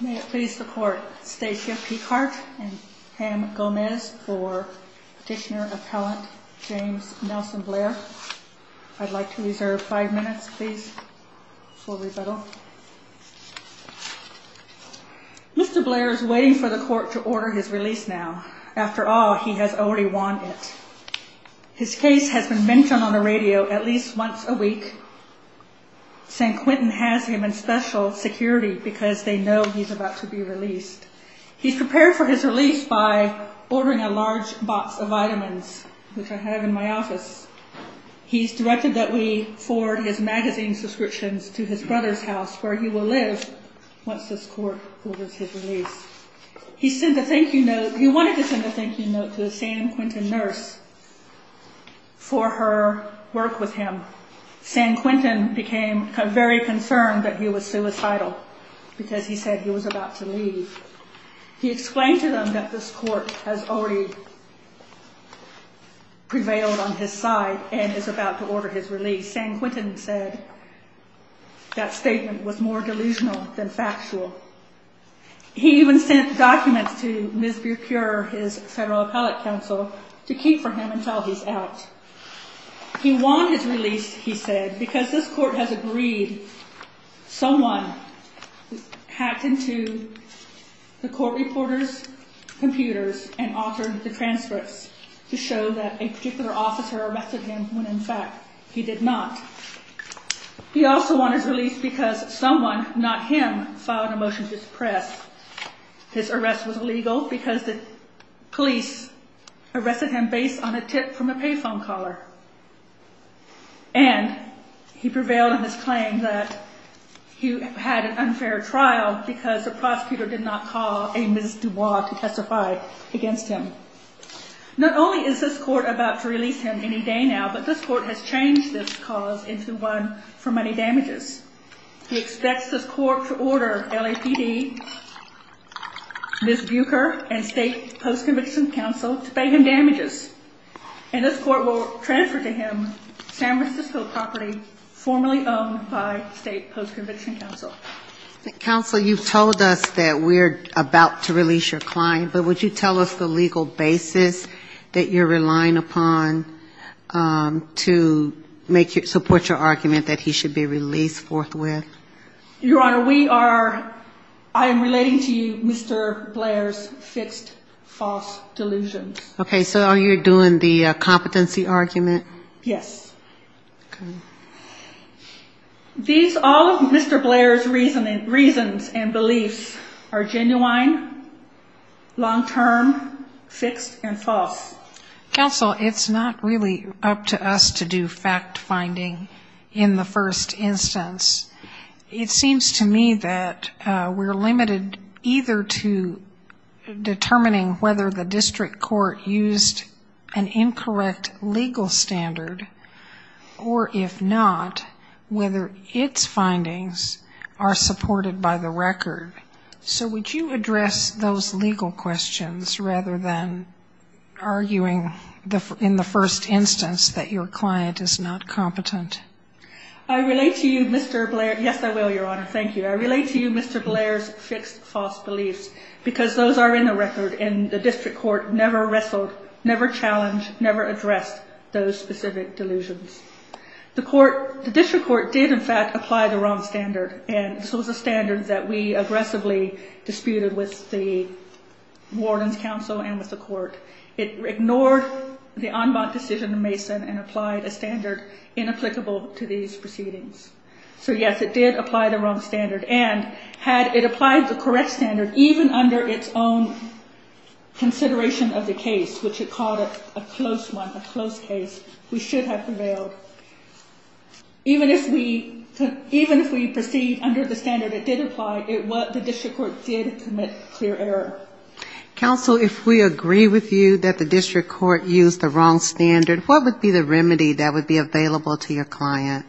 May it please the Court, Stacia Peacock and Pam Gomez for Petitioner Appellant James Nelson Blair. I'd like to reserve five minutes, please, for rebuttal. Mr. Blair is waiting for the Court to order his release now. After all, he has already won it. His case has been mentioned on the radio at least once a week. San Quentin has him in special security because they know he's about to be released. He's prepared for his release by ordering a large box of vitamins, which I have in my office. He's directed that we forward his magazine subscriptions to his brother's house, where he will live once this Court orders his release. He wanted to send a thank you note to a San Quentin nurse for her work with him. San Quentin became very concerned that he was suicidal because he said he was about to leave. He explained to them that this Court has already prevailed on his side and is about to order his release. San Quentin said that statement was more delusional than factual. He even sent documents to Ms. Burecure, his federal appellate counsel, to keep for him until he's out. He won his release, he said, because this Court has agreed someone hacked into the Court reporter's computers and altered the transcripts to show that a particular officer arrested him when, in fact, he did not. He also won his release because someone, not him, filed a motion to suppress. His arrest was legal because the police arrested him based on a tip from a pay phone caller. And he prevailed on his claim that he had an unfair trial because the prosecutor did not call a Ms. Dubois to testify against him. Not only is this Court about to release him any day now, but this Court has changed this cause into one for money damages. He expects this Court to order LAPD, Ms. Burecure, and state post-conviction counsel to pay him damages. And this Court will transfer to him San Francisco property formerly owned by state post-conviction counsel. Counsel, you've told us that we're about to release your client, but would you tell us the legal basis that you're relying upon to support your argument that he should be released forthwith? Your Honor, we are – I am relating to you Mr. Blair's fixed false delusions. Okay, so you're doing the competency argument? Yes. Okay. These – all of Mr. Blair's reasons and beliefs are genuine, long-term, fixed, and false. Counsel, it's not really up to us to do fact-finding in the first instance. It seems to me that we're limited either to determining whether the district court used an incorrect legal standard, or if not, whether its findings are supported by the record. So would you address those legal questions rather than arguing in the first instance that your client is not competent? I relate to you Mr. Blair – yes, I will, Your Honor. Thank you. I relate to you Mr. Blair's fixed false beliefs, because those are in the record, and the district court never wrestled, never challenged, never addressed those specific delusions. The court – the district court did in fact apply the wrong standard, and this was a standard that we aggressively disputed with the warden's counsel and with the court. It ignored the en banc decision of Mason and applied a standard inapplicable to these proceedings. So yes, it did apply the wrong standard, and had it applied the correct standard, even under its own consideration of the case, which it called a close one, a close case, we should have prevailed. Even if we proceed under the standard it did apply, the district court did commit clear error. Counsel, if we agree with you that the district court used the wrong standard, what would be the remedy that would be available to your client?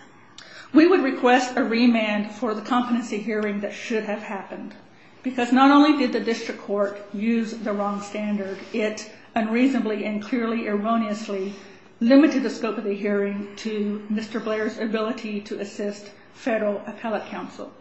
We would request a remand for the competency hearing that should have happened, because not only did the district court use the wrong standard, it unreasonably and clearly erroneously limited the scope of the hearing to Mr. Blair's ability to assist federal appellate counsel.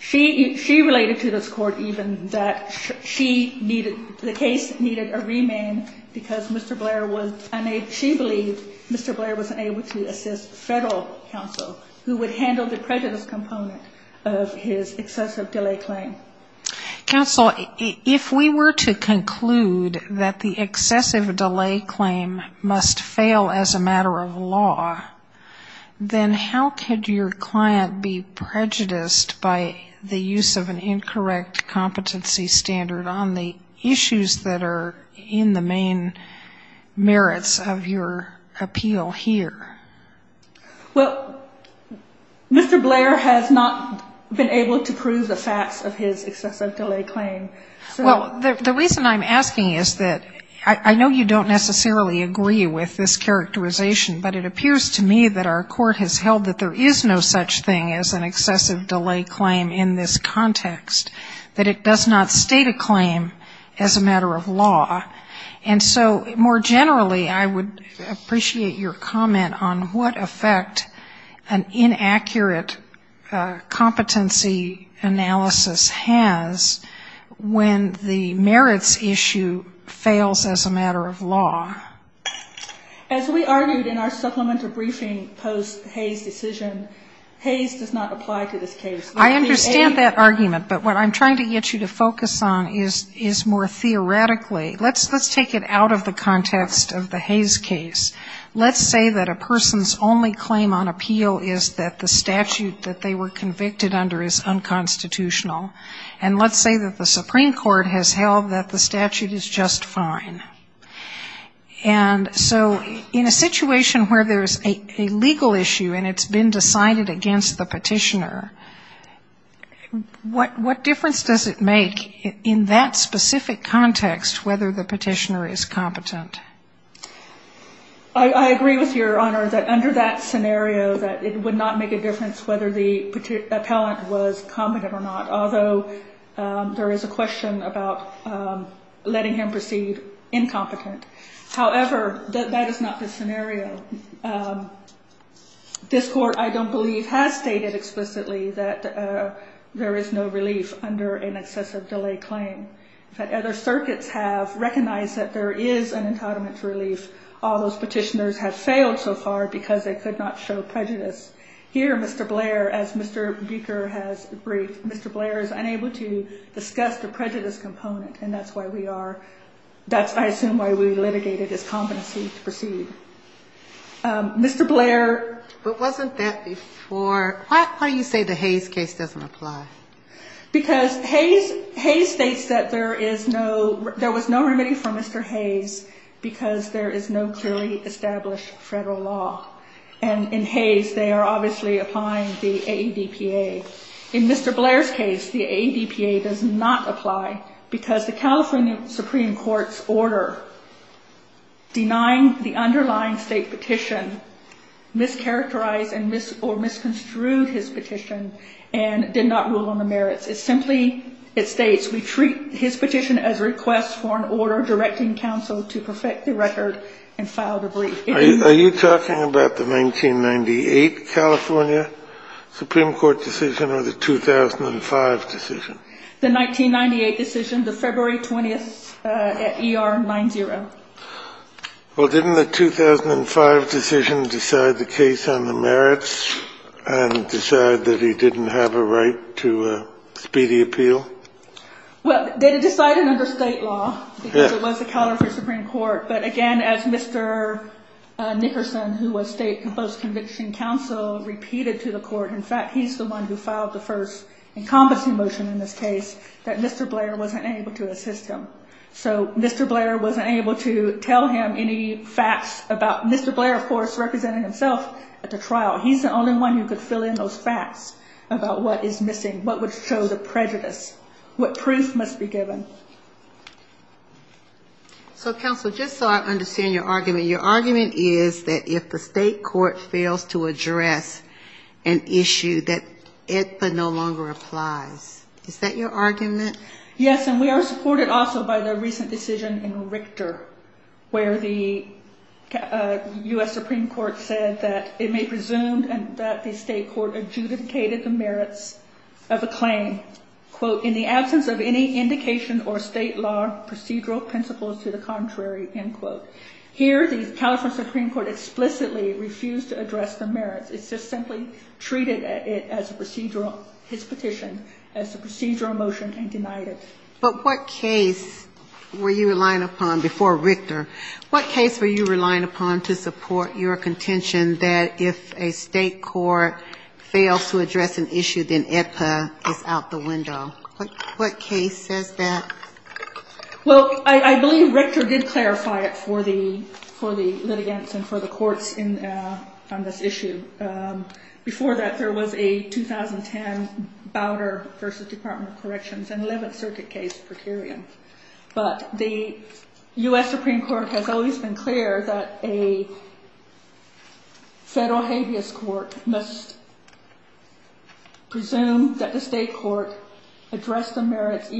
She – she related to this court even that she needed – the case needed a remand because Mr. Blair was unable – she believed Mr. Blair was unable to assist federal counsel, who would handle the prejudice component of his excessive delay claim. Counsel, if we were to conclude that the excessive delay claim must fail as a matter of law, then how could your client be prejudiced by the fact that the district court used an incorrect competency standard on the issues that are in the main merits of your appeal here? Well, Mr. Blair has not been able to prove the facts of his excessive delay claim. Well, the reason I'm asking is that I know you don't necessarily agree with this characterization, but it appears to me that our court has held that there is no excessive delay claim in this context, that it does not state a claim as a matter of law. And so more generally, I would appreciate your comment on what effect an inaccurate competency analysis has when the merits issue fails as a matter of law. As we argued in our supplemental briefing post-Hayes decision, Hayes does not apply to this case. I understand that argument, but what I'm trying to get you to focus on is more theoretically. Let's take it out of the context of the Hayes case. Let's say that a person's only claim on appeal is that the statute that they were convicted under is unconstitutional. And let's say that the Supreme Court has held that the statute is just fine. And so in a situation where there's a legal issue and it's been decided against the petitioner, what difference does it make in that specific context whether the petitioner is competent? I agree with Your Honor that under that scenario that it would not make a difference whether the appellant was competent or not. Although there is a question about letting him perceive incompetent. However, that is not the scenario. This court, I don't believe, has stated explicitly that there is no relief under an excessive delay claim. In fact, other circuits have recognized that there is an entitlement relief. All those petitioners have failed so far because they could not show prejudice. Here, Mr. Blair, as Mr. Buecher has briefed, Mr. Blair is unable to discuss the prejudice component. And that's why we are that's I assume why we litigated his competency to proceed. Mr. Blair But wasn't that before? Why do you say the Hayes case doesn't apply? Because Hayes states that there is no there was no remedy for Mr. Hayes because there is no clearly established federal law. And in Hayes, they are obviously applying the AEDPA. In Mr. Blair's case, the AEDPA does not apply because the California Supreme Court's order denying the underlying state petition mischaracterized or misconstrued his petition and did not rule on the merits. It simply it states we treat his petition as a request for an order directing counsel to perfect the record and file the brief. Are you talking about the 1998 California Supreme Court decision or the 2005 decision? The 1998 decision, the February 20th at ER 90. Well, didn't the 2005 decision decide the case on the merits and decide that he didn't have a right to speedy appeal? Well, they decided under state law. It was the California Supreme Court. But again, as Mr. Nickerson, who was state post conviction counsel, repeated to the court, in fact, he's the one who filed the first encompassing motion in this case that Mr. Blair wasn't able to assist him. So Mr. Blair wasn't able to tell him any facts about Mr. Blair, of course, representing himself at the trial. He's the only one who could fill in those facts about what is missing, what would show the prejudice, what proof must be given. So counsel, just so I understand your argument, your argument is that if the state court fails to address an issue that it no longer applies, is that your argument? Yes, and we are supported also by the recent decision in Richter where the U.S. Supreme Court said that it may presume that the state court adjudicated the merits of a claim, quote, in the absence of any indication or state law procedural principles to the contrary, end quote. Here, the California Supreme Court explicitly refused to address the merits. It's just simply treated it as a procedural, his petition, as a procedural motion and denied it. But what case were you relying upon before Richter? What case were you relying upon to support your contention that if a state court fails to address an issue, then AEDPA is out the window? What case says that? Well, I believe Richter did clarify it for the litigants and for the courts on this issue. But I don't think that's the case. Before that, there was a 2010 Bowder v. Department of Corrections and 11th Circuit case, Procurian. But the U.S. Supreme Court has always been clear that a federal habeas court must presume that the state court addressed the merits,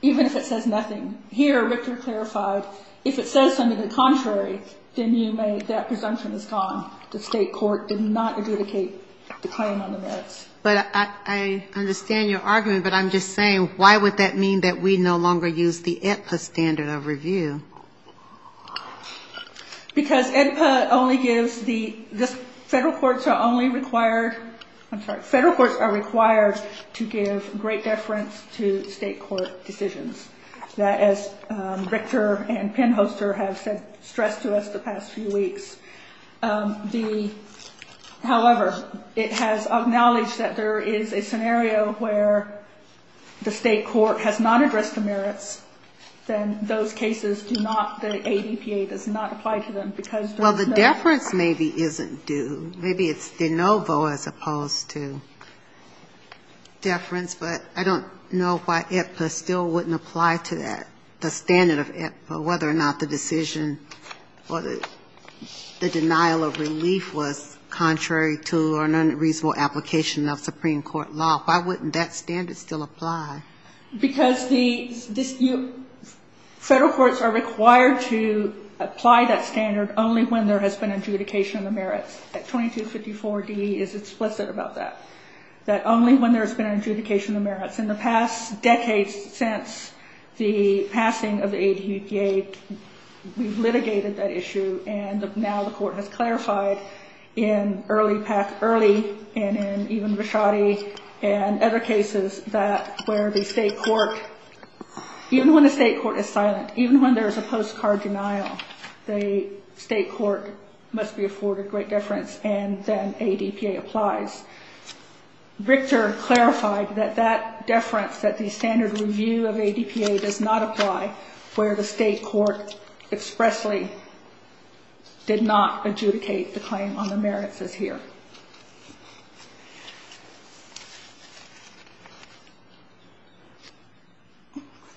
even if it says nothing. Here, Richter clarified, if it says something contrary, then that presumption is gone. The state court did not adjudicate the claim on the merits. But I understand your argument, but I'm just saying, why would that mean that we no longer use the AEDPA standard of review? Because AEDPA only gives the, the federal courts are only required, I'm sorry, federal courts are required to give great deference to state court decisions. That, as Richter and Pennhoster have said, stressed to us the past few weeks, the AEDPA standard of review is not true. However, it has acknowledged that there is a scenario where the state court has not addressed the merits, then those cases do not, the AEDPA does not apply to them, because there's no... Well, the deference maybe isn't due. Maybe it's de novo as opposed to deference, but I don't know why AEDPA still wouldn't apply to that, the standard of AEDPA, whether or not the decision or the denial of relief was contrary. Contrary to an unreasonable application of Supreme Court law. Why wouldn't that standard still apply? Because the, this, you, federal courts are required to apply that standard only when there has been adjudication of the merits. 2254D is explicit about that. That only when there has been adjudication of the merits. In the past decades since the passing of the AEDPA, we've litigated that issue, and now the court has clarified in early PAC, early, and in even Rashadi, and other cases that where the state court, even when the state court is silent, even when there is a postcard denial, the state court must be afforded great deference, and then AEDPA applies. Richter clarified that that deference, that the standard review of AEDPA does not apply where the state court is silent, and the state court expressly did not adjudicate the claim on the merits as here.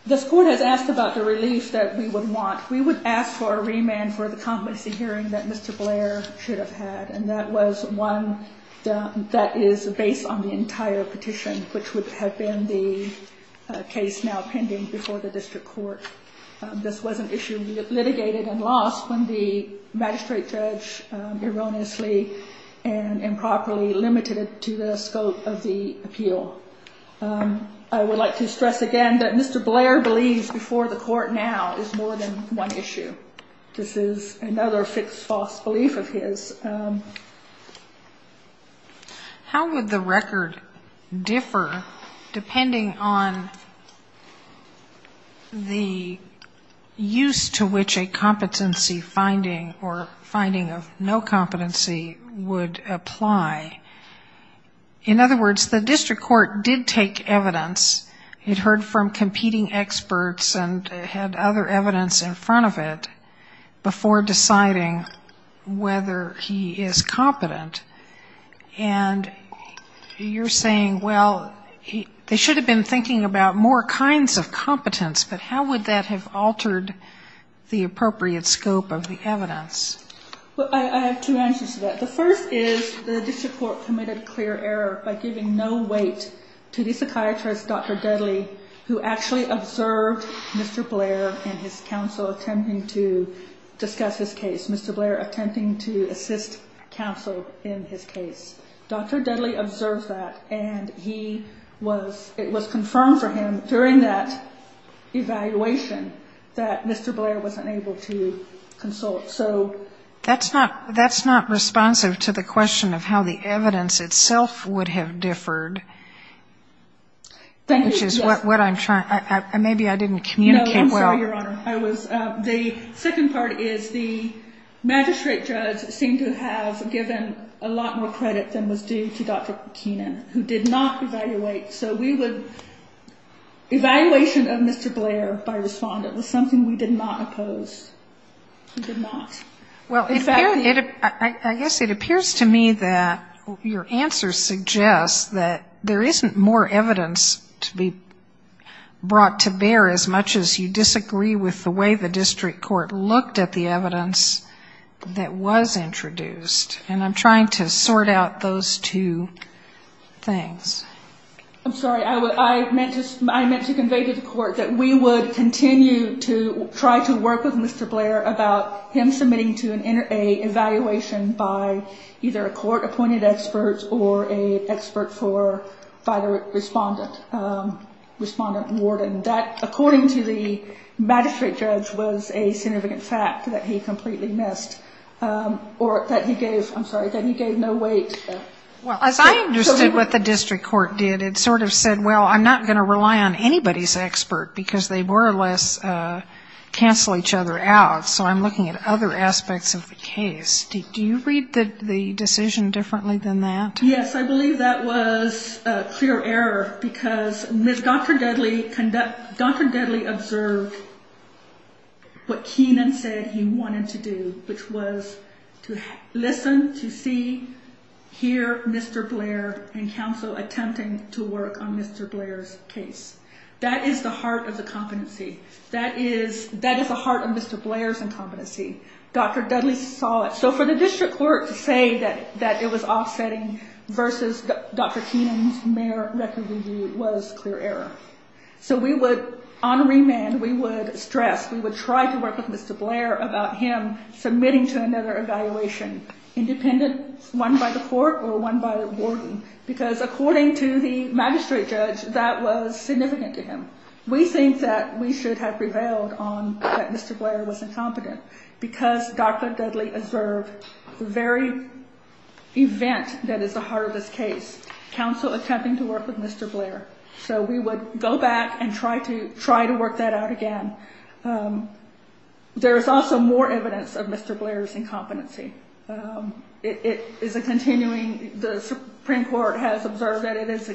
This court has asked about the relief that we would want. We would ask for a remand for the competency hearing that Mr. Blair should have had, and that was one that is based on the entire petition, which would have been the case now pending before the court, and that issue was litigated and lost when the magistrate judge erroneously and improperly limited it to the scope of the appeal. I would like to stress again that Mr. Blair believes before the court now is more than one issue. This is another fixed false belief of his. How would the record differ depending on the use of the AEDPA? The district court did take evidence. It heard from competing experts and had other evidence in front of it before deciding whether he is competent, and you're saying, well, they should have been thinking about more kinds of competence, but how would that have altered the appropriate scope of the evidence? I have two answers to that. The first is the district court committed clear error by giving no weight to the psychiatrist, Dr. Dudley, who actually observed Mr. Blair and his counsel attempting to discuss his case, Mr. Blair attempting to assist counsel in his case. Dr. Dudley observed that, and it was confirmed for him during that evaluation that Mr. Blair was competent. Mr. Blair was unable to consult. That's not responsive to the question of how the evidence itself would have differed, which is what I'm trying. Maybe I didn't communicate well. No, I'm sorry, Your Honor. The second part is the magistrate judge seemed to have given a lot more credit than was due to Dr. Keenan, who did not evaluate, so we would, evaluation of Mr. Blair by respondent was something we did not approve of. I guess it appears to me that your answer suggests that there isn't more evidence to be brought to bear as much as you disagree with the way the district court looked at the evidence that was introduced, and I'm trying to sort out those two things. I'm sorry, I meant to convey to the court that we would continue to try to work with the district court to make sure that the district court would continue to work with Mr. Blair about him submitting to an evaluation by either a court-appointed expert or an expert for by the respondent, respondent warden. That, according to the magistrate judge, was a significant fact that he completely missed, or that he gave, I'm sorry, that he gave no weight. Well, as I understood what the district court did, it sort of said, well, I'm not going to rely on anybody's expert, because they were less than a third of each other out, so I'm looking at other aspects of the case. Do you read the decision differently than that? Yes, I believe that was a clear error, because Dr. Dudley observed what Keenan said he wanted to do, which was to listen, to see, hear Mr. Blair, and counsel attempting to work on Mr. Blair's case. That is the heart of the competency. That is the heart of the competency. That is the heart of Mr. Blair's incompetency. Dr. Dudley saw it. So for the district court to say that it was offsetting versus Dr. Keenan's mere record review was clear error. So we would, on remand, we would stress, we would try to work with Mr. Blair about him submitting to another evaluation, independent, one by the court or one by the warden, because according to the magistrate judge, that was significant to him. We think that we should have prevailed on that Mr. Blair was incompetent, because Dr. Dudley observed the very event that is the heart of this case, counsel attempting to work with Mr. Blair. So we would go back and try to work that out again. There is also more evidence of Mr. Blair's incompetency. It is a continuing, the Supreme Court has observed that it is,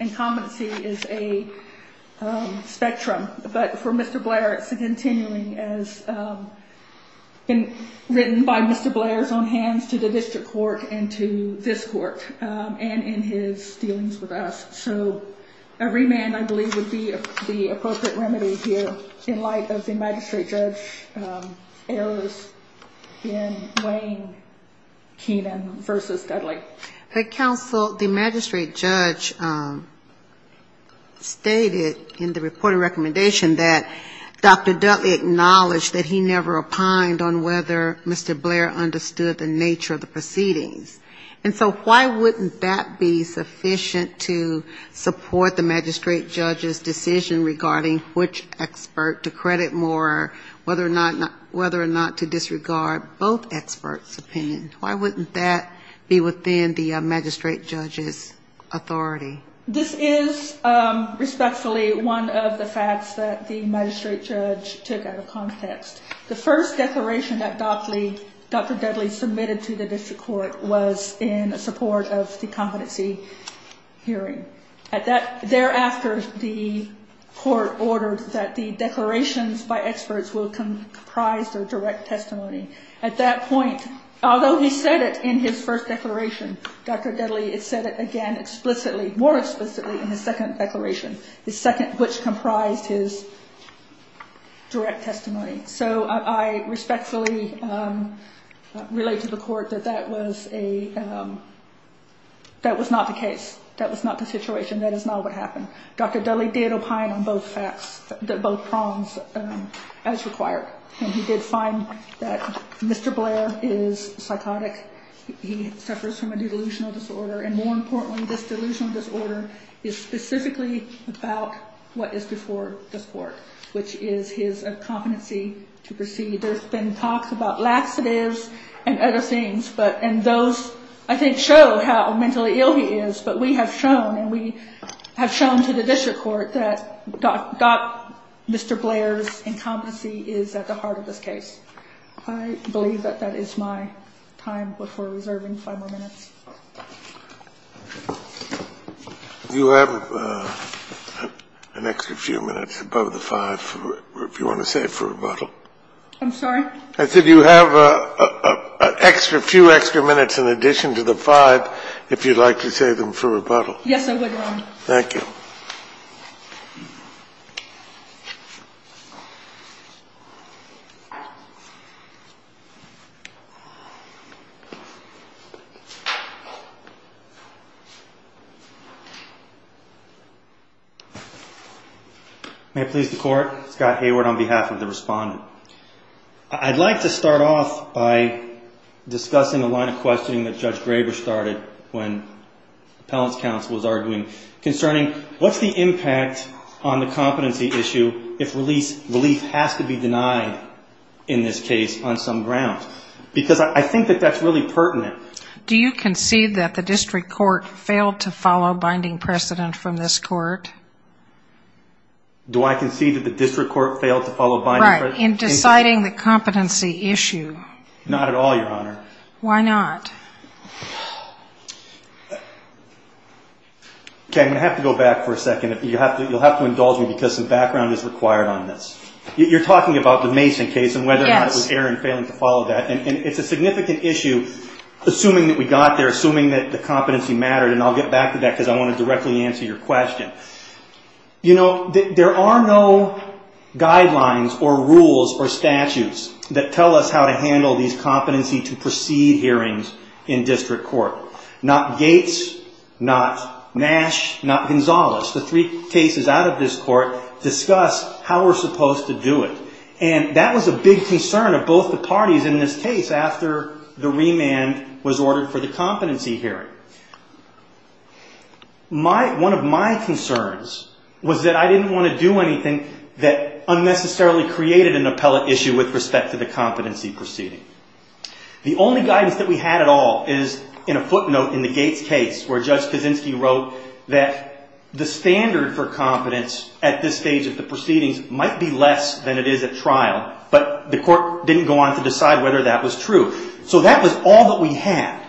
incompetency is a spectrum. But for Mr. Blair, it is a continuing as written by Mr. Blair's own hands to the district court and to this court and in his dealings with us. So a remand, I believe, would be the appropriate remedy here in light of the magistrate judge's errors in weighing Keenan versus Dudley. But counsel, the magistrate judge stated in the report of recommendation that Dr. Dudley acknowledged that he never opined on whether Mr. Blair understood the nature of the proceedings. And so why wouldn't that be sufficient to support the magistrate judge's decision regarding which expert to credit more, whether or not to disregard both experts' opinions? Why wouldn't that be within the magistrate judge's authority? This is respectfully one of the facts that the magistrate judge took out of context. The first declaration that Dr. Dudley submitted to the district court was in support of the competency hearing. Thereafter, the court ordered that the declarations by experts will comprise their direct testimony. At that point, although he said it in his first declaration, Dr. Dudley said it again explicitly, more explicitly in his second declaration, the second which comprised his direct testimony. So I respectfully relate to the court that that was not the case, that was not the situation, that is not what happened. Dr. Dudley did opine on both facts, both prongs as required and he did fine in his second declaration. And so I respectfully relate to the court that Mr. Blair is psychotic, he suffers from a delusional disorder, and more importantly, this delusional disorder is specifically about what is before this court, which is his incompetency to proceed. There's been talk about laxatives and other things, and those, I think, show how mentally ill he is, but we have shown, and we have shown to the district court, that Mr. Blair's incompetency is at the heart of this case. I believe that that is my time before reserving five more minutes. You have an extra few minutes above the five if you want to save for rebuttal. I'm sorry? I said you have a few extra minutes in addition to the five if you'd like to save them for rebuttal. Yes, I would, Your Honor. May it please the Court, Scott Hayward on behalf of the Respondent. I'd like to start off by discussing a line of questioning that Judge Graber started when appellant's counsel was arguing, concerning what's the impact on the competency issue if relief has to be denied in this case on some ground? Because I think that that's really pertinent. Do you concede that the district court failed to follow binding precedent from this court? Do I concede that the district court failed to follow binding precedent? Right, in deciding the competency issue. Not at all, Your Honor. Why not? Okay, I'm going to have to go back for a second. You'll have to indulge me because some background is required on this. You're talking about the Mason case and whether or not it was Aaron failing to follow that. It's a significant issue, assuming that we got there, assuming that the competency mattered. I'll get back to that because I want to directly answer your question. There are no guidelines or rules or statutes that tell us how to handle these competency to proceed hearings in district court. Not Gates, not Nash, not Gonzales. The three cases out of this court discuss how we're supposed to do it. That was a big concern of both the parties in this case after the remand was ordered for the competency hearing. One of my concerns was that I didn't want to do anything that unnecessarily created an appellate issue with respect to the competency proceeding. The only guidance that we had at all is in a footnote in the Gates case where Judge Kaczynski wrote that the standard for competence at this stage of the proceedings might be less than it is at trial, but the court didn't go on to decide whether that was true. So that was all that we had.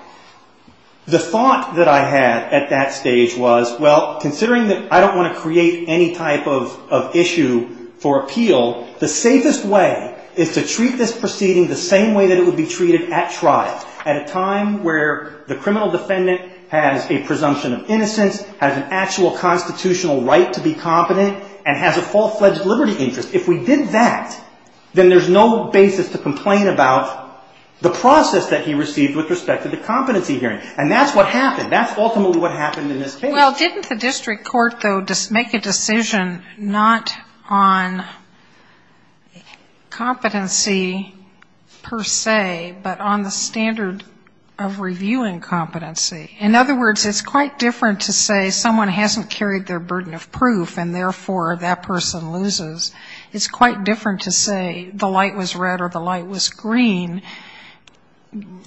The thought that I had at that stage was, well, considering that I don't want to create any type of issue for appeal, the safest way is to treat this proceeding the same way that it would be treated at trial, at a time where the criminal defendant has a presumption of innocence, has an actual constitutional right to be competent, and has a full-fledged liberty interest. If we did that, then there's no basis to complain about the process that he received with respect to the competency hearing. And that's what happened. That's ultimately what happened in this case. Well, didn't the district court, though, make a decision not on competency per se, but on the standard of reviewing competency? In other words, it's quite different to say someone hasn't carried their burden of proof, and therefore that person loses. It's quite different to say the light was red or the light was green,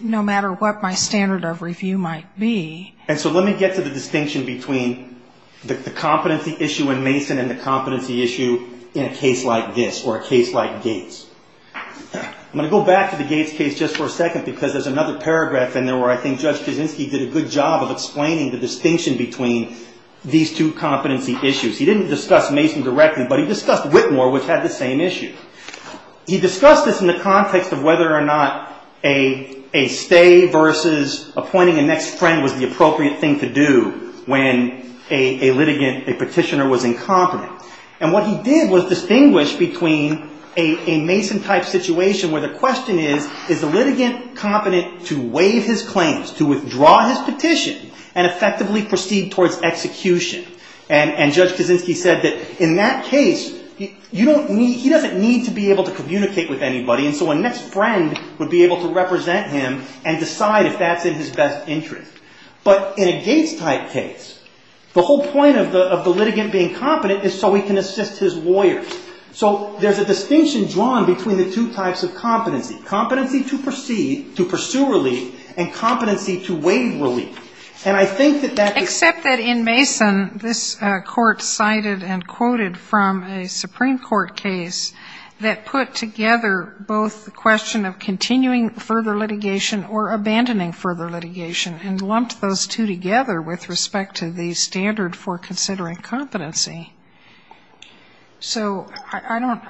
no matter what my standard of review might be. And so let me get to the distinction between the competency issue in Mason and the competency issue in a case like this, or a case like Gates. I'm going to go back to the Gates case just for a second, because there's another paragraph in there where I think Judge Kaczynski did a good job of explaining the distinction between these two competency issues. He didn't discuss Mason directly, but he discussed Whitmore, which had the same issue. He discussed this in the context of whether or not a stay versus appointing a next friend was the appropriate thing to do when a litigant, a petitioner, was incompetent. And what he did was distinguish between a Mason-type situation where the question is, is the litigant competent to waive his claims, to withdraw his petition, and effectively proceed towards execution? And Judge Kaczynski said that in that case, he doesn't need to be able to communicate with anybody, and so a next friend would be able to represent him and decide if that's in his best interest. But in a Gates-type case, the whole point of the litigant being competent is so he can assist his lawyers. So there's a distinction drawn between the two types of competency, competency to pursue relief and competency to waive relief. And I think that that's... Except that in Mason, this Court cited and quoted from a Supreme Court case that put together both the question of continuing further litigation or abandoning further litigation, and lumped those two together with respect to the standard for considering competency. So I don't,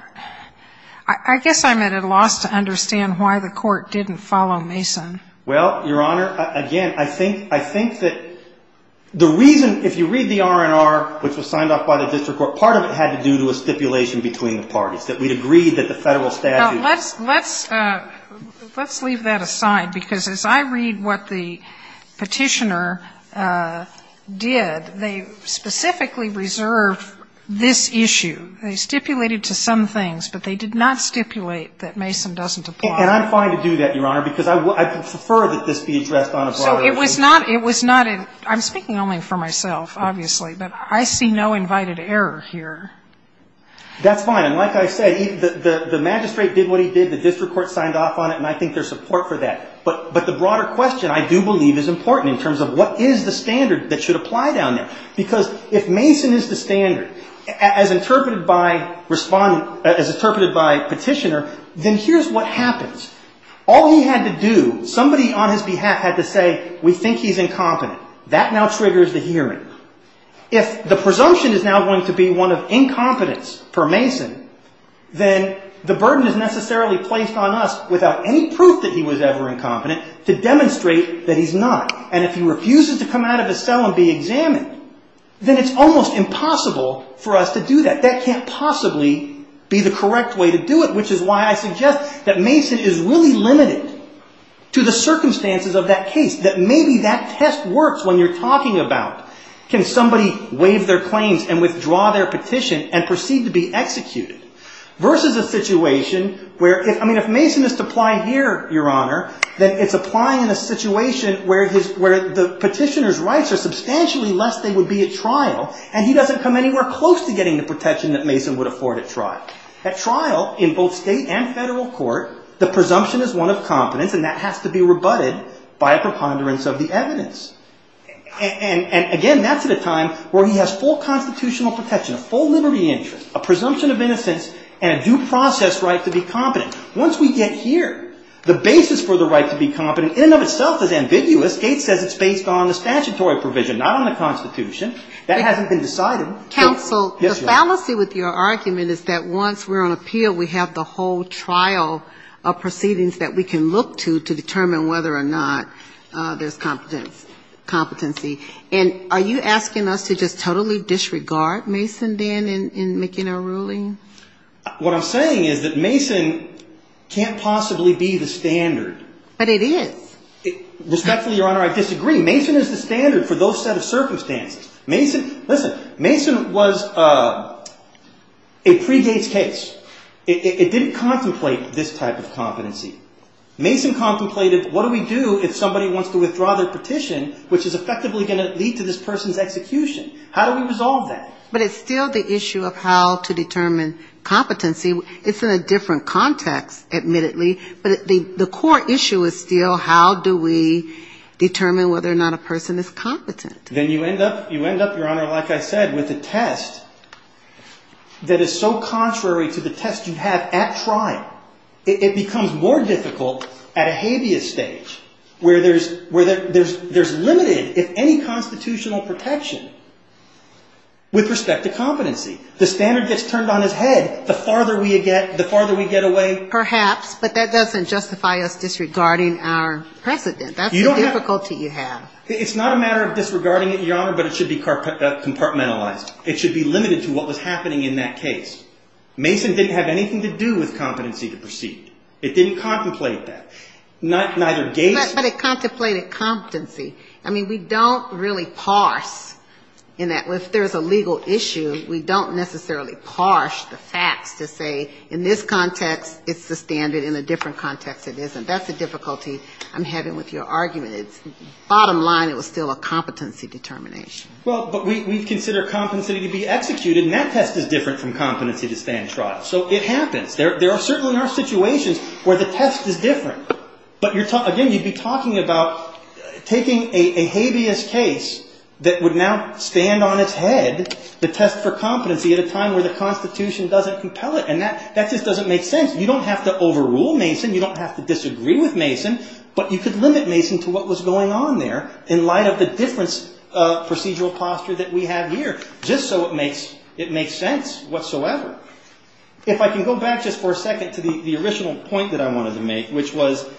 I guess I'm at a loss to understand why the Court didn't follow Mason. Well, Your Honor, again, I think that the reason, if you read the R&R, which was signed off by the district court, part of it had to do with stipulation between the parties, that we'd agreed that the federal statute... Now, let's leave that aside, because as I read what the petitioner did, they specifically reserved this issue. They stipulated to some things, but they did not stipulate that Mason doesn't apply. And I'm fine to do that, Your Honor, because I prefer that this be addressed on a broader issue. So it was not, I'm speaking only for myself, obviously, but I see no invited error here. That's fine, and like I said, the magistrate did what he did, the district court signed off on it, and I think there's support for that. But the broader question, I do believe, is important in terms of what is the standard that should apply down there. Because if Mason is the standard, as interpreted by petitioner, then here's what happens. All he had to do, somebody on his behalf had to say, we think he's incompetent. That now triggers the hearing. If the presumption is now going to be one of incompetence for Mason, then the burden is necessarily placed on us without any proof that he was ever incompetent to demonstrate that he's not. And if he refuses to come out of his cell and be examined, then it's almost impossible for us to do that. That can't possibly be the correct way to do it, which is why I suggest that Mason is really limited to the circumstances of that case. That maybe that test works when you're talking about, can somebody waive their claims and withdraw their petition and proceed to be executed? Versus a situation where, I mean, if Mason is to apply here, Your Honor, then it's applying in a situation where the petitioner's rights are substantially less than they would be at trial, and he doesn't come anywhere close to getting the protection that Mason would afford at trial. At trial, in both state and federal court, the presumption is one of competence, and that has to be rebutted by a preponderance of the evidence. And again, that's at a time where he has full constitutional protection, a full liberty interest, a presumption of innocence, and a due process right to be competent. Once we get here, the basis for the right to be competent in and of itself is ambiguous. This case says it's based on a statutory provision, not on a constitution. That hasn't been decided. Counsel, the fallacy with your argument is that once we're on appeal, we have the whole trial of proceedings that we can look to to determine whether or not there's competency. And are you asking us to just totally disregard Mason then in making a ruling? What I'm saying is that Mason can't possibly be the standard. But it is. Respectfully, Your Honor, I disagree. Mason is the standard for those set of circumstances. Mason was a pre-Gates case. It didn't contemplate this type of competency. Mason contemplated, what do we do if somebody wants to withdraw their petition, which is effectively going to lead to this person's execution? How do we resolve that? But it's still the issue of how to determine competency. It's in a different context, admittedly. But the core issue is still how do we determine whether or not a person is competent? Then you end up, Your Honor, like I said, with a test that is so contrary to the test you have at trial. It becomes more difficult at a habeas stage where there's limited, if any, constitutional protection with respect to competency. The standard gets turned on its head the farther we get away. It doesn't justify us disregarding our precedent. That's the difficulty you have. It's not a matter of disregarding it, Your Honor, but it should be compartmentalized. It should be limited to what was happening in that case. Mason didn't have anything to do with competency to proceed. It didn't contemplate that. But it contemplated competency. I mean, we don't really parse, if there's a legal issue, we don't necessarily parse the facts to say in this context it's the standard in a different context. That's the difficulty I'm having with your argument. Bottom line, it was still a competency determination. Well, but we consider competency to be executed, and that test is different from competency to stand trial. So it happens. There are certain situations where the test is different. Again, you'd be talking about taking a habeas case that would now stand on its head, the test for competency, at a time where the Constitution doesn't compel it. And that just doesn't make sense. You don't have to overrule Mason. You don't have to disagree with Mason. But you could limit Mason to what was going on there in light of the different procedural posture that we have here, just so it makes sense whatsoever. If I can go back just for a second to the original point that I wanted to make, which was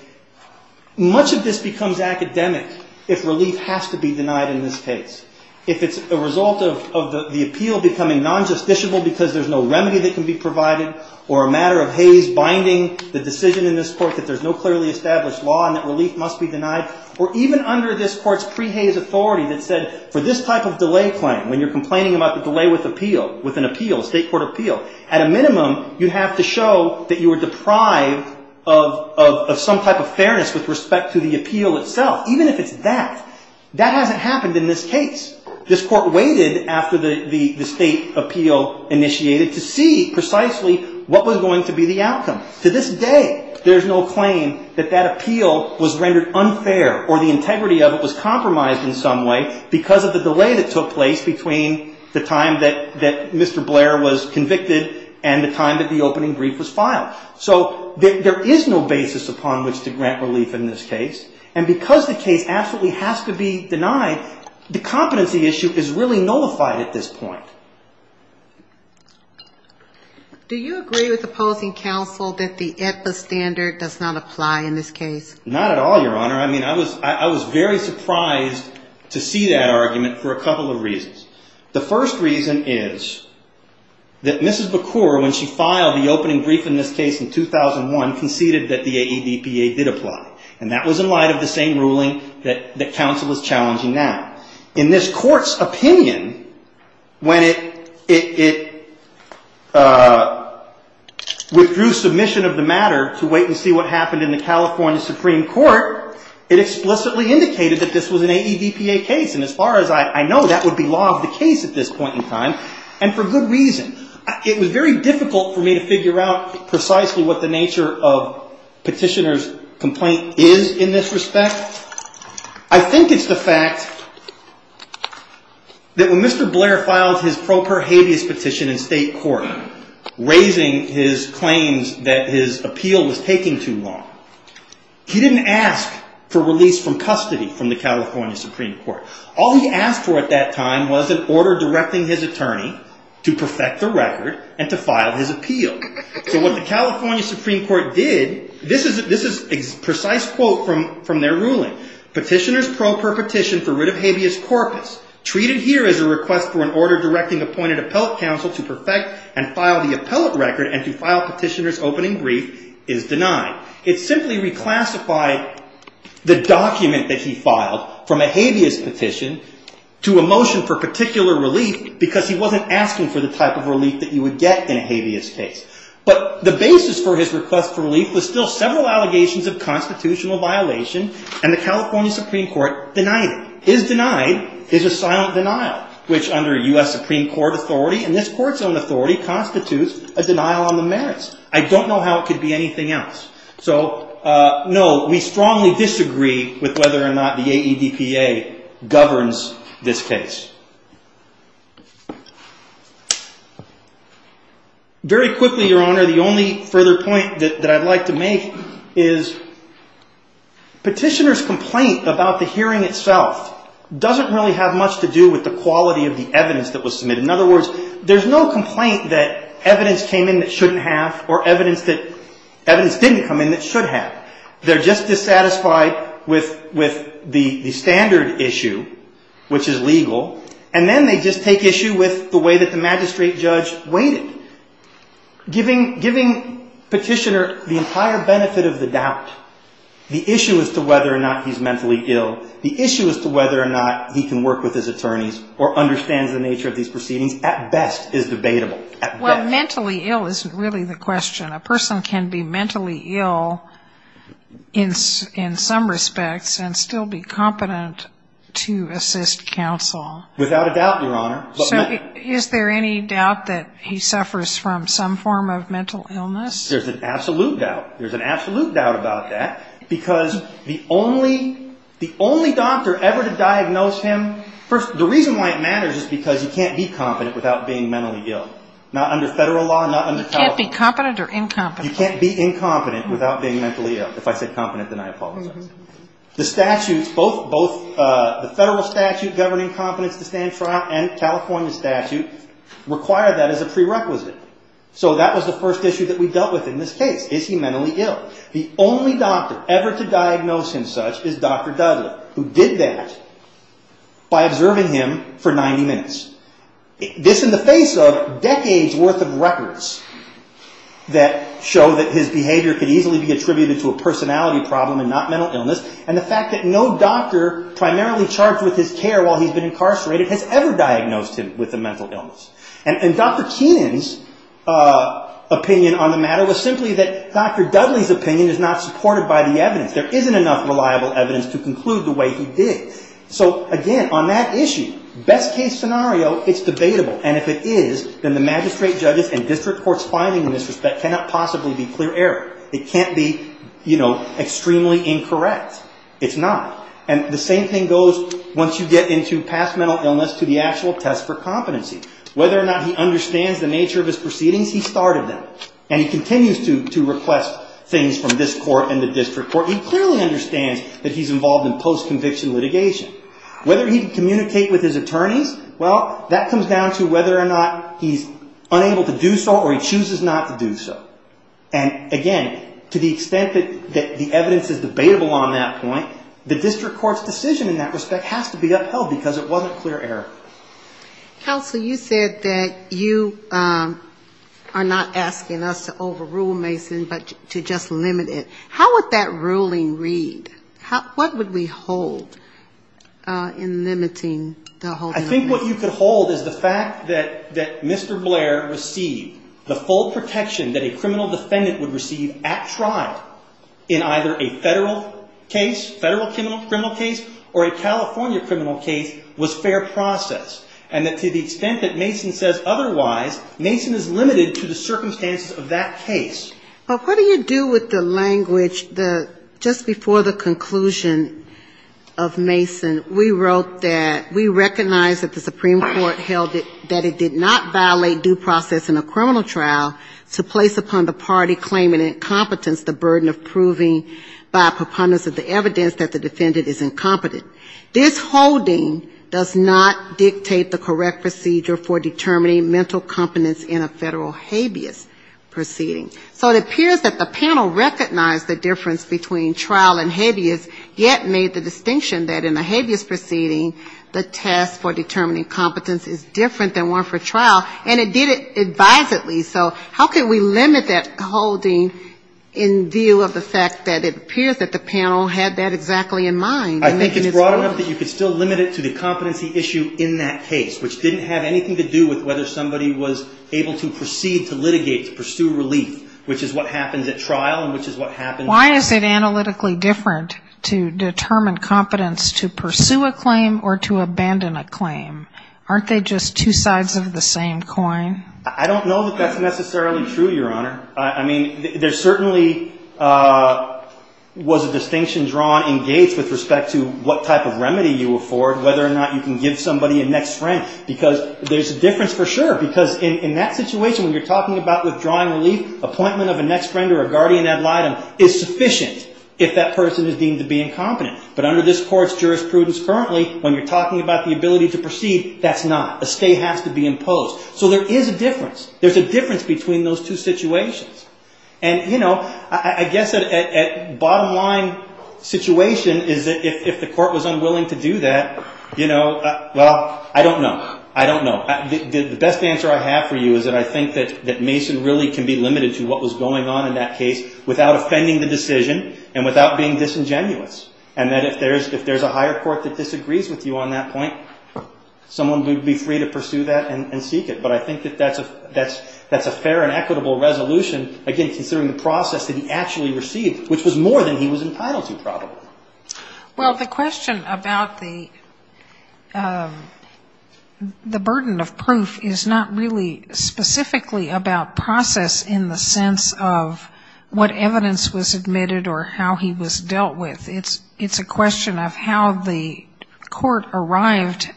much of this becomes academic if relief has to be denied in this case. If it's a result of the appeal becoming non-justiciable because there's no remedy that can be provided, or a matter of Hays binding the decision in this court that there's no clearly established law and that relief must be denied, or even under this court's pre-Hays authority that said for this type of delay claim, when you're complaining about the delay with an appeal, a state court appeal, at a minimum you have to show that you were deprived of some type of fairness with respect to the appeal itself, even if it's that. That hasn't happened in this case. This court waited after the state appeal initiated to see precisely what was going to be the outcome. To this day, there's no claim that that appeal was rendered unfair or the integrity of it was compromised in some way because of the delay that took place between the time that Mr. Blair was convicted and the time that the opening brief was filed. So there is no basis upon which to grant relief in this case. And because the case absolutely has to be denied, the competency issue is really nullified at this point. Do you agree with opposing counsel that the AEDPA standard does not apply in this case? Not at all, Your Honor. I mean, I was very surprised to see that argument for a couple of reasons. The first reason is that Mrs. Bakur, when she filed the opening brief in this case in 2001, conceded that the AEDPA did apply. And that was in light of the same ruling that counsel is challenging now. In this court's opinion, when it withdrew submission of the matter to wait and see what happened in the California Supreme Court, it explicitly indicated that this was an AEDPA case. And as far as I know, that would be law of the case at this point in time, and for good reason. It was very difficult for me to figure out precisely what the nature of petitioner's complaint is in this respect. I think it's the fact that when Mr. Blair filed his pro per habeas petition in state court, raising his claims that his appeal was taking too long, he didn't ask for release from custody from the California Supreme Court. All he asked for at that time was an order directing his attorney to perfect the record and to file his appeal. So what the California Supreme Court did, this is a precise quote from their ruling. Petitioner's pro per petition for writ of habeas corpus, treated here as a request for an order directing appointed appellate counsel to perfect and file the appellate record and to file petitioner's opening brief, is denied. It simply reclassified the document that he filed from a habeas petition to a pro per petition. To a motion for particular relief, because he wasn't asking for the type of relief that you would get in a habeas case. But the basis for his request for relief was still several allegations of constitutional violation, and the California Supreme Court denied it. His denied is a silent denial, which under U.S. Supreme Court authority, and this court's own authority, constitutes a denial on the merits. I don't know how it could be anything else. So, no, we strongly disagree with whether or not the AEDPA governs this case. Very quickly, your honor, the only further point that I'd like to make is petitioner's complaint about the hearing itself doesn't really have much to do with the quality of the evidence that was submitted. In other words, there's no complaint that evidence came in that shouldn't have, or evidence that evidence didn't come in that shouldn't have. They're just dissatisfied with the standard issue, which is legal, and then they just take issue with the way that the magistrate judge weighed it. Giving petitioner the entire benefit of the doubt, the issue as to whether or not he's mentally ill, the issue as to whether or not he can work with his attorneys, or understands the nature of these proceedings, at best is debatable. Well, mentally ill isn't really the question. A person can be mentally ill in some respects and still be competent to assist counsel. Without a doubt, your honor. Is there any doubt that he suffers from some form of mental illness? There's an absolute doubt. There's an absolute doubt about that, because the only doctor ever to diagnose him, first, the reason why it matters is because he can't be competent without being mentally ill. Not under federal law, not under California law. You can't be incompetent without being mentally ill. If I said competent, then I apologize. The federal statute governing competence to stand trial and California statute require that as a prerequisite. So that was the first issue that we dealt with in this case. Is he mentally ill? The only doctor ever to diagnose him such is Dr. Dudley, who did that by observing him for 90 minutes. This in the face of decades worth of records that show that his behavior could easily be attributed to a personality problem and not mental illness. And the fact that no doctor primarily charged with his care while he's been incarcerated has ever diagnosed him with a mental illness. And Dr. Keenan's opinion on the matter was simply that Dr. Dudley's opinion is not supported by the evidence. There isn't enough reliable evidence to conclude the way he did. So again, on that issue, best case scenario, it's debatable. And if it is, then the magistrate judges and district courts finding in this respect cannot possibly be clear error. It can't be extremely incorrect. It's not. And the same thing goes once you get into past mental illness to the actual test for competency. Whether or not he understands the nature of his proceedings, he started them. And he continues to request things from this court and the district court. He clearly understands that he's involved in post-conviction litigation. Whether he can communicate with his attorneys, well, that comes down to whether or not he's unable to do so or he chooses not to do so. And again, to the extent that the evidence is debatable on that point, the district court's decision in that respect has to be upheld because it wasn't clear error. Counsel, you said that you are not asking us to overrule Mason, but to just limit it. How would that ruling read? What would we hold in limiting the holding of Mason? I think what you could hold is the fact that Mr. Blair received the full protection that a criminal defendant would receive at trial in either a federal case, federal criminal case, or a California criminal case was fair process. And that to the extent that Mason says otherwise, Mason is limited to the circumstances of that case. Well, what do you do with the language that just before the conclusion of Mason, we wrote that we recognize that the Supreme Court held that it did not violate due process in a criminal trial to place upon the party claiming incompetence the burden of proving by preponderance of the evidence that the defendant is incompetent. This holding does not dictate the correct procedure for determining mental competence in a federal habeas proceeding. So it appears that the panel recognized the difference between trial and habeas, yet made the distinction that in a habeas proceeding, the test for determining competence is different than one for trial, and it did it advisedly. So how can we limit that holding in view of the fact that it appears that the panel had that exactly in mind? I think it's broad enough that you could still limit it to the competency issue in that case, which didn't have anything to do with whether somebody was able to proceed to litigate, to pursue relief, which is what happens at trial and which is what happens... Why is it analytically different to determine competence to pursue a claim or to abandon a claim? Aren't they just two sides of the same coin? I don't know that that's necessarily true, Your Honor. I mean, there certainly was a distinction drawn in Gates with respect to what type of remedy you afford, whether or not you can give somebody a next friend, because there's a difference for sure. Because in that situation, when you're talking about withdrawing relief, appointment of a next friend or a guardian ad litem is sufficient if that person is deemed to be incompetent. But under this Court's jurisprudence currently, when you're talking about the ability to proceed, that's not. A stay has to be imposed. So there is a difference. There's a difference between those two situations. And, you know, I guess at bottom line situation is that if the Court was unwilling to do that, you know, well, I don't know. I don't know. The best answer I have for you is that I think that Mason really can be limited to what was going on in that case without offending the decision and without being disingenuous. And that if there's a higher court that disagrees with you on that point, someone would be free to pursue that and seek it. But I think that that's a fair and equitable resolution, again, considering the process that he actually received, which was more than he was entitled to probably. Well, the question about the burden of proof is not really specifically about process in the sense of what evidence was admitted or how he was dealt with. It's a question of how the Court arrived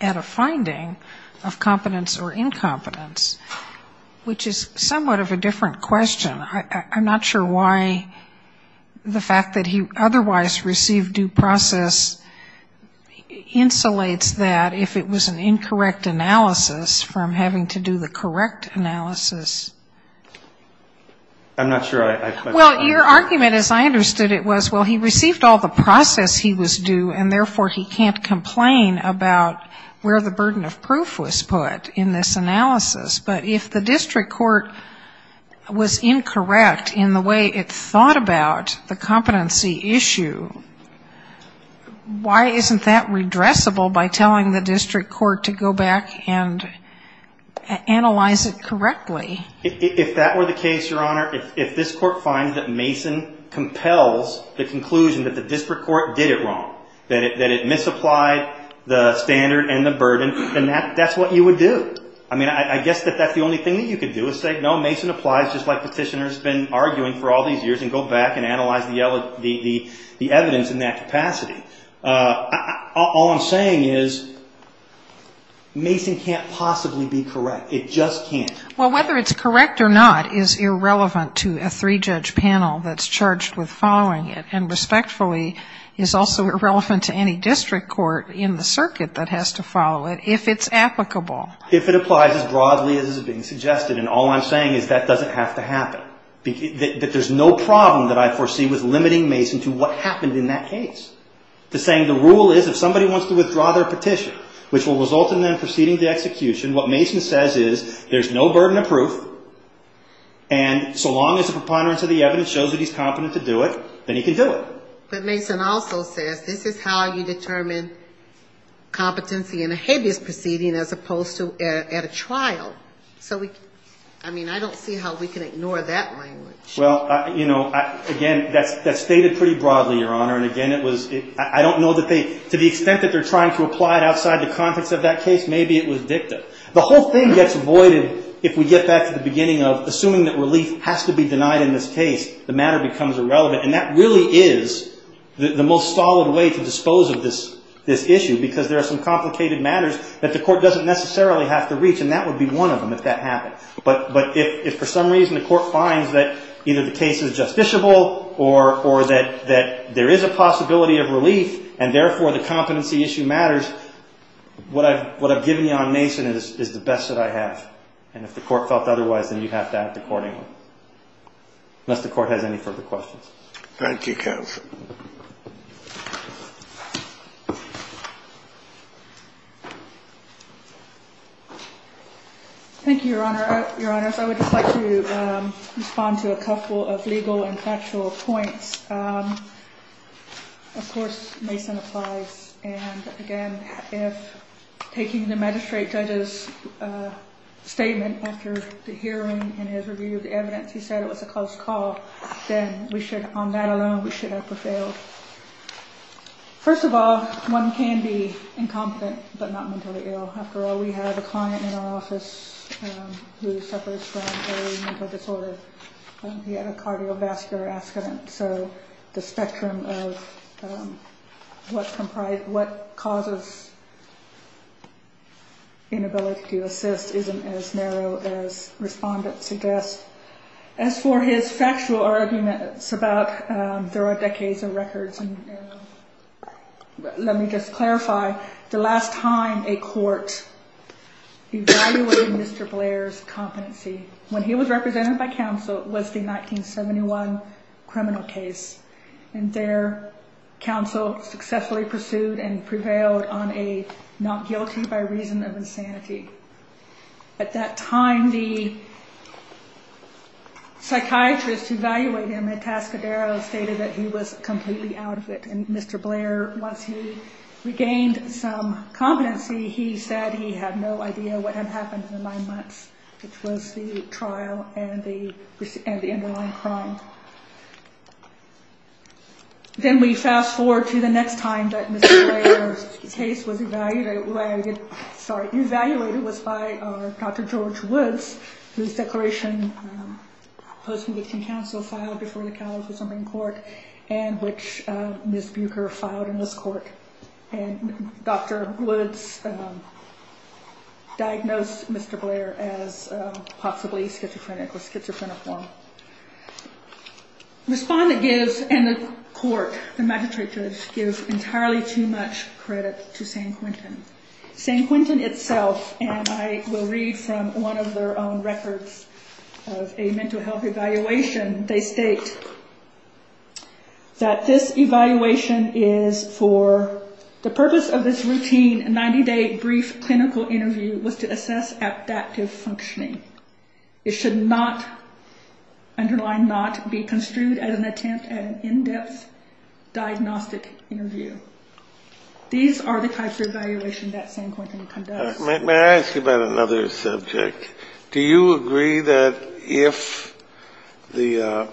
at a finding of competence or incompetence. Which is somewhat of a different question. I'm not sure why the fact that he otherwise received due process insulates that if it was an incorrect analysis from having to do the correct analysis. I'm not sure I understand. Well, your argument as I understood it was, well, he received all the process he was due and therefore he can't complain about where the burden of proof was put in this case. But if the District Court was incorrect in the way it thought about the competency issue, why isn't that redressable by telling the District Court to go back and analyze it correctly? If that were the case, Your Honor, if this Court finds that Mason compels the conclusion that the District Court did it wrong, that it misapplied the standard and the burden, then that's what you would do. I mean, I guess that that's the only thing that you could do is say, no, Mason applies just like Petitioner's been arguing for all these years and go back and analyze the evidence in that capacity. All I'm saying is Mason can't possibly be correct. It just can't. Well, whether it's correct or not is irrelevant to a three-judge panel that's charged with following it and respectfully is also irrelevant to any District Court in the circuit that has to follow it if it's applicable. If it applies as broadly as is being suggested, and all I'm saying is that doesn't have to happen. That there's no problem that I foresee with limiting Mason to what happened in that case. The saying, the rule is if somebody wants to withdraw their petition, which will result in them proceeding to execution, what Mason says is there's no burden of proof, and so long as the preponderance of the evidence shows that he's competent to do it, then he can do it. But Mason also says this is how you determine competency in a habeas proceeding as opposed to a case where the burden of proof was put in. So, I mean, I don't see how we can ignore that language. Well, you know, again, that's stated pretty broadly, Your Honor, and again, it was, I don't know that they, to the extent that they're trying to apply it outside the context of that case, maybe it was dicta. The whole thing gets voided if we get back to the beginning of assuming that relief has to be denied in this case, the matter becomes irrelevant. And that really is the most solid way to dispose of this issue because there are some complicated matters that the Court doesn't necessarily have to deal with. They don't necessarily have to reach, and that would be one of them if that happened. But if for some reason the Court finds that either the case is justiciable or that there is a possibility of relief, and therefore the competency issue matters, what I've given you on Mason is the best that I have. And if the Court felt otherwise, then you have to act accordingly, unless the Court has any further questions. Thank you, counsel. Thank you, Your Honor. I would just like to respond to a couple of legal and factual points. Of course, Mason applies, and again, if taking the magistrate judge's statement after the hearing and his review of the evidence, he said it was a close call, then we should, on that alone, we should have prevailed. First of all, one can be incompetent but not mentally ill. After all, we have a client in our office who suffers from a mental disorder. He had a cardiovascular accident, so the spectrum of what causes inability to assist isn't as narrow as respondents suggest. As for his factual arguments about there are decades of records, let me just clarify. The last time a court evaluated Mr. Blair's competency when he was represented by counsel was the 1971 criminal case. And there, counsel successfully pursued and prevailed on a not guilty by reason of insanity. At that time, the psychiatrist who evaluated him at Tascadero stated that he was completely out of it. And Mr. Blair, once he regained some competency, he said he had no idea what had happened in the nine months, which was the trial and the underlying crime. Then we fast forward to the next time that Mr. Blair's case was evaluated, sorry, evaluated by counsel. The case that was evaluated was by Dr. George Woods, whose declaration post-conviction counsel filed before the California Supreme Court and which Ms. Buecher filed in this court. And Dr. Woods diagnosed Mr. Blair as possibly schizophrenic or schizophreniform. Respondent gives, and the court, the magistrate judge, gives entirely too much credit to San Quentin. San Quentin itself, and I will read from one of their own records of a mental health evaluation, they state that this evaluation is for the purpose of this routine 90-day brief clinical interview was to assess adaptive functioning. It should not, underline not, be construed as an attempt at an in-depth diagnostic interview. These are the types of evaluation that San Quentin conducts. Scalia. May I ask you about another subject? Do you agree that if the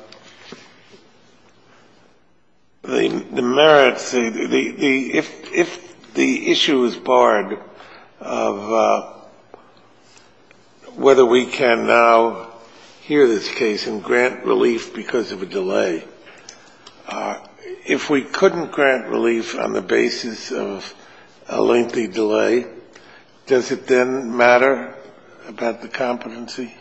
merits, if the issue is barred of whether we can now hear this case and grant relief because of a delay, if we couldn't grant relief on the basis of a lengthy delay, does it then matter about the competency?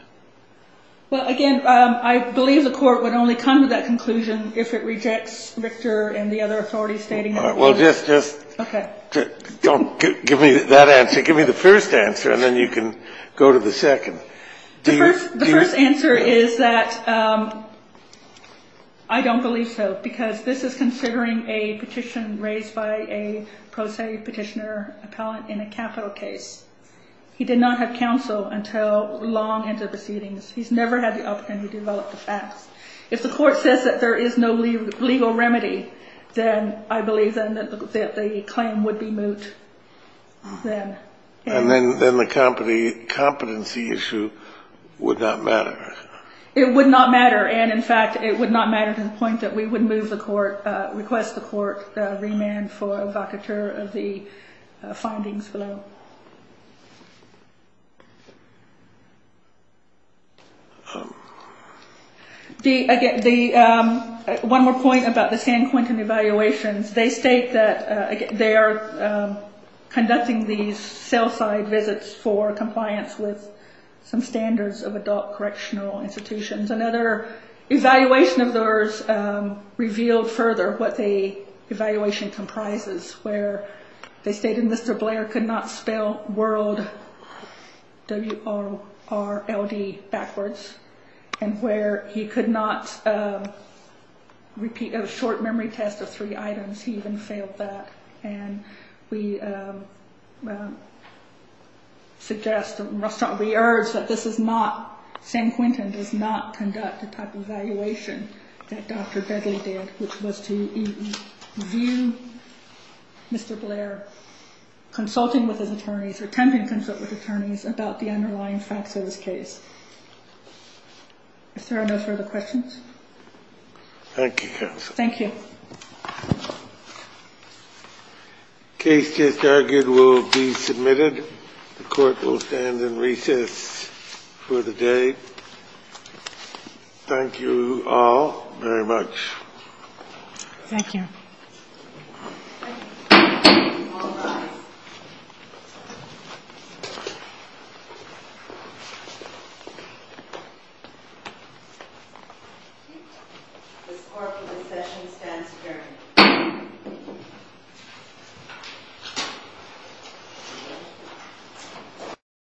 Well, again, I believe the court would only come to that conclusion if it rejects Victor and the other authorities stating it. Well, just don't give me that answer. Give me the first answer, and then you can go to the second. The first answer is that I don't believe so, because this is considering a petition raised by a pro se petitioner appellant in a capital case. He did not have counsel until long into the proceedings. He's never had the opportunity to develop the facts. If the court says that there is no legal remedy, then I believe that the claim would be moot. And then the competency issue would not matter? It would not matter. And, in fact, it would not matter to the point that we would move the court, request the court remand for evocateur of the findings below. One more point about the San Quentin evaluations. They state that they are conducting these sell-side visits for compliance with some standards of adult correctional institutions. Another evaluation of those revealed further what the evaluation comprises, where they state that Mr. Blair could not spell world backwards, and where he could not repeat a short memory test of three items. He even failed that, and we suggest and we urge that this is not, San Quentin does not conduct the type of evaluation that Dr. Begley did, which was to view Mr. Blair consulting with his attorneys or attempting to consult with attorneys about the underlying facts of this case. Is there any further questions? Thank you, counsel. The case just argued will be submitted. The court will stand in recess for the day. Thank you all very much. This court for discussion stands adjourned.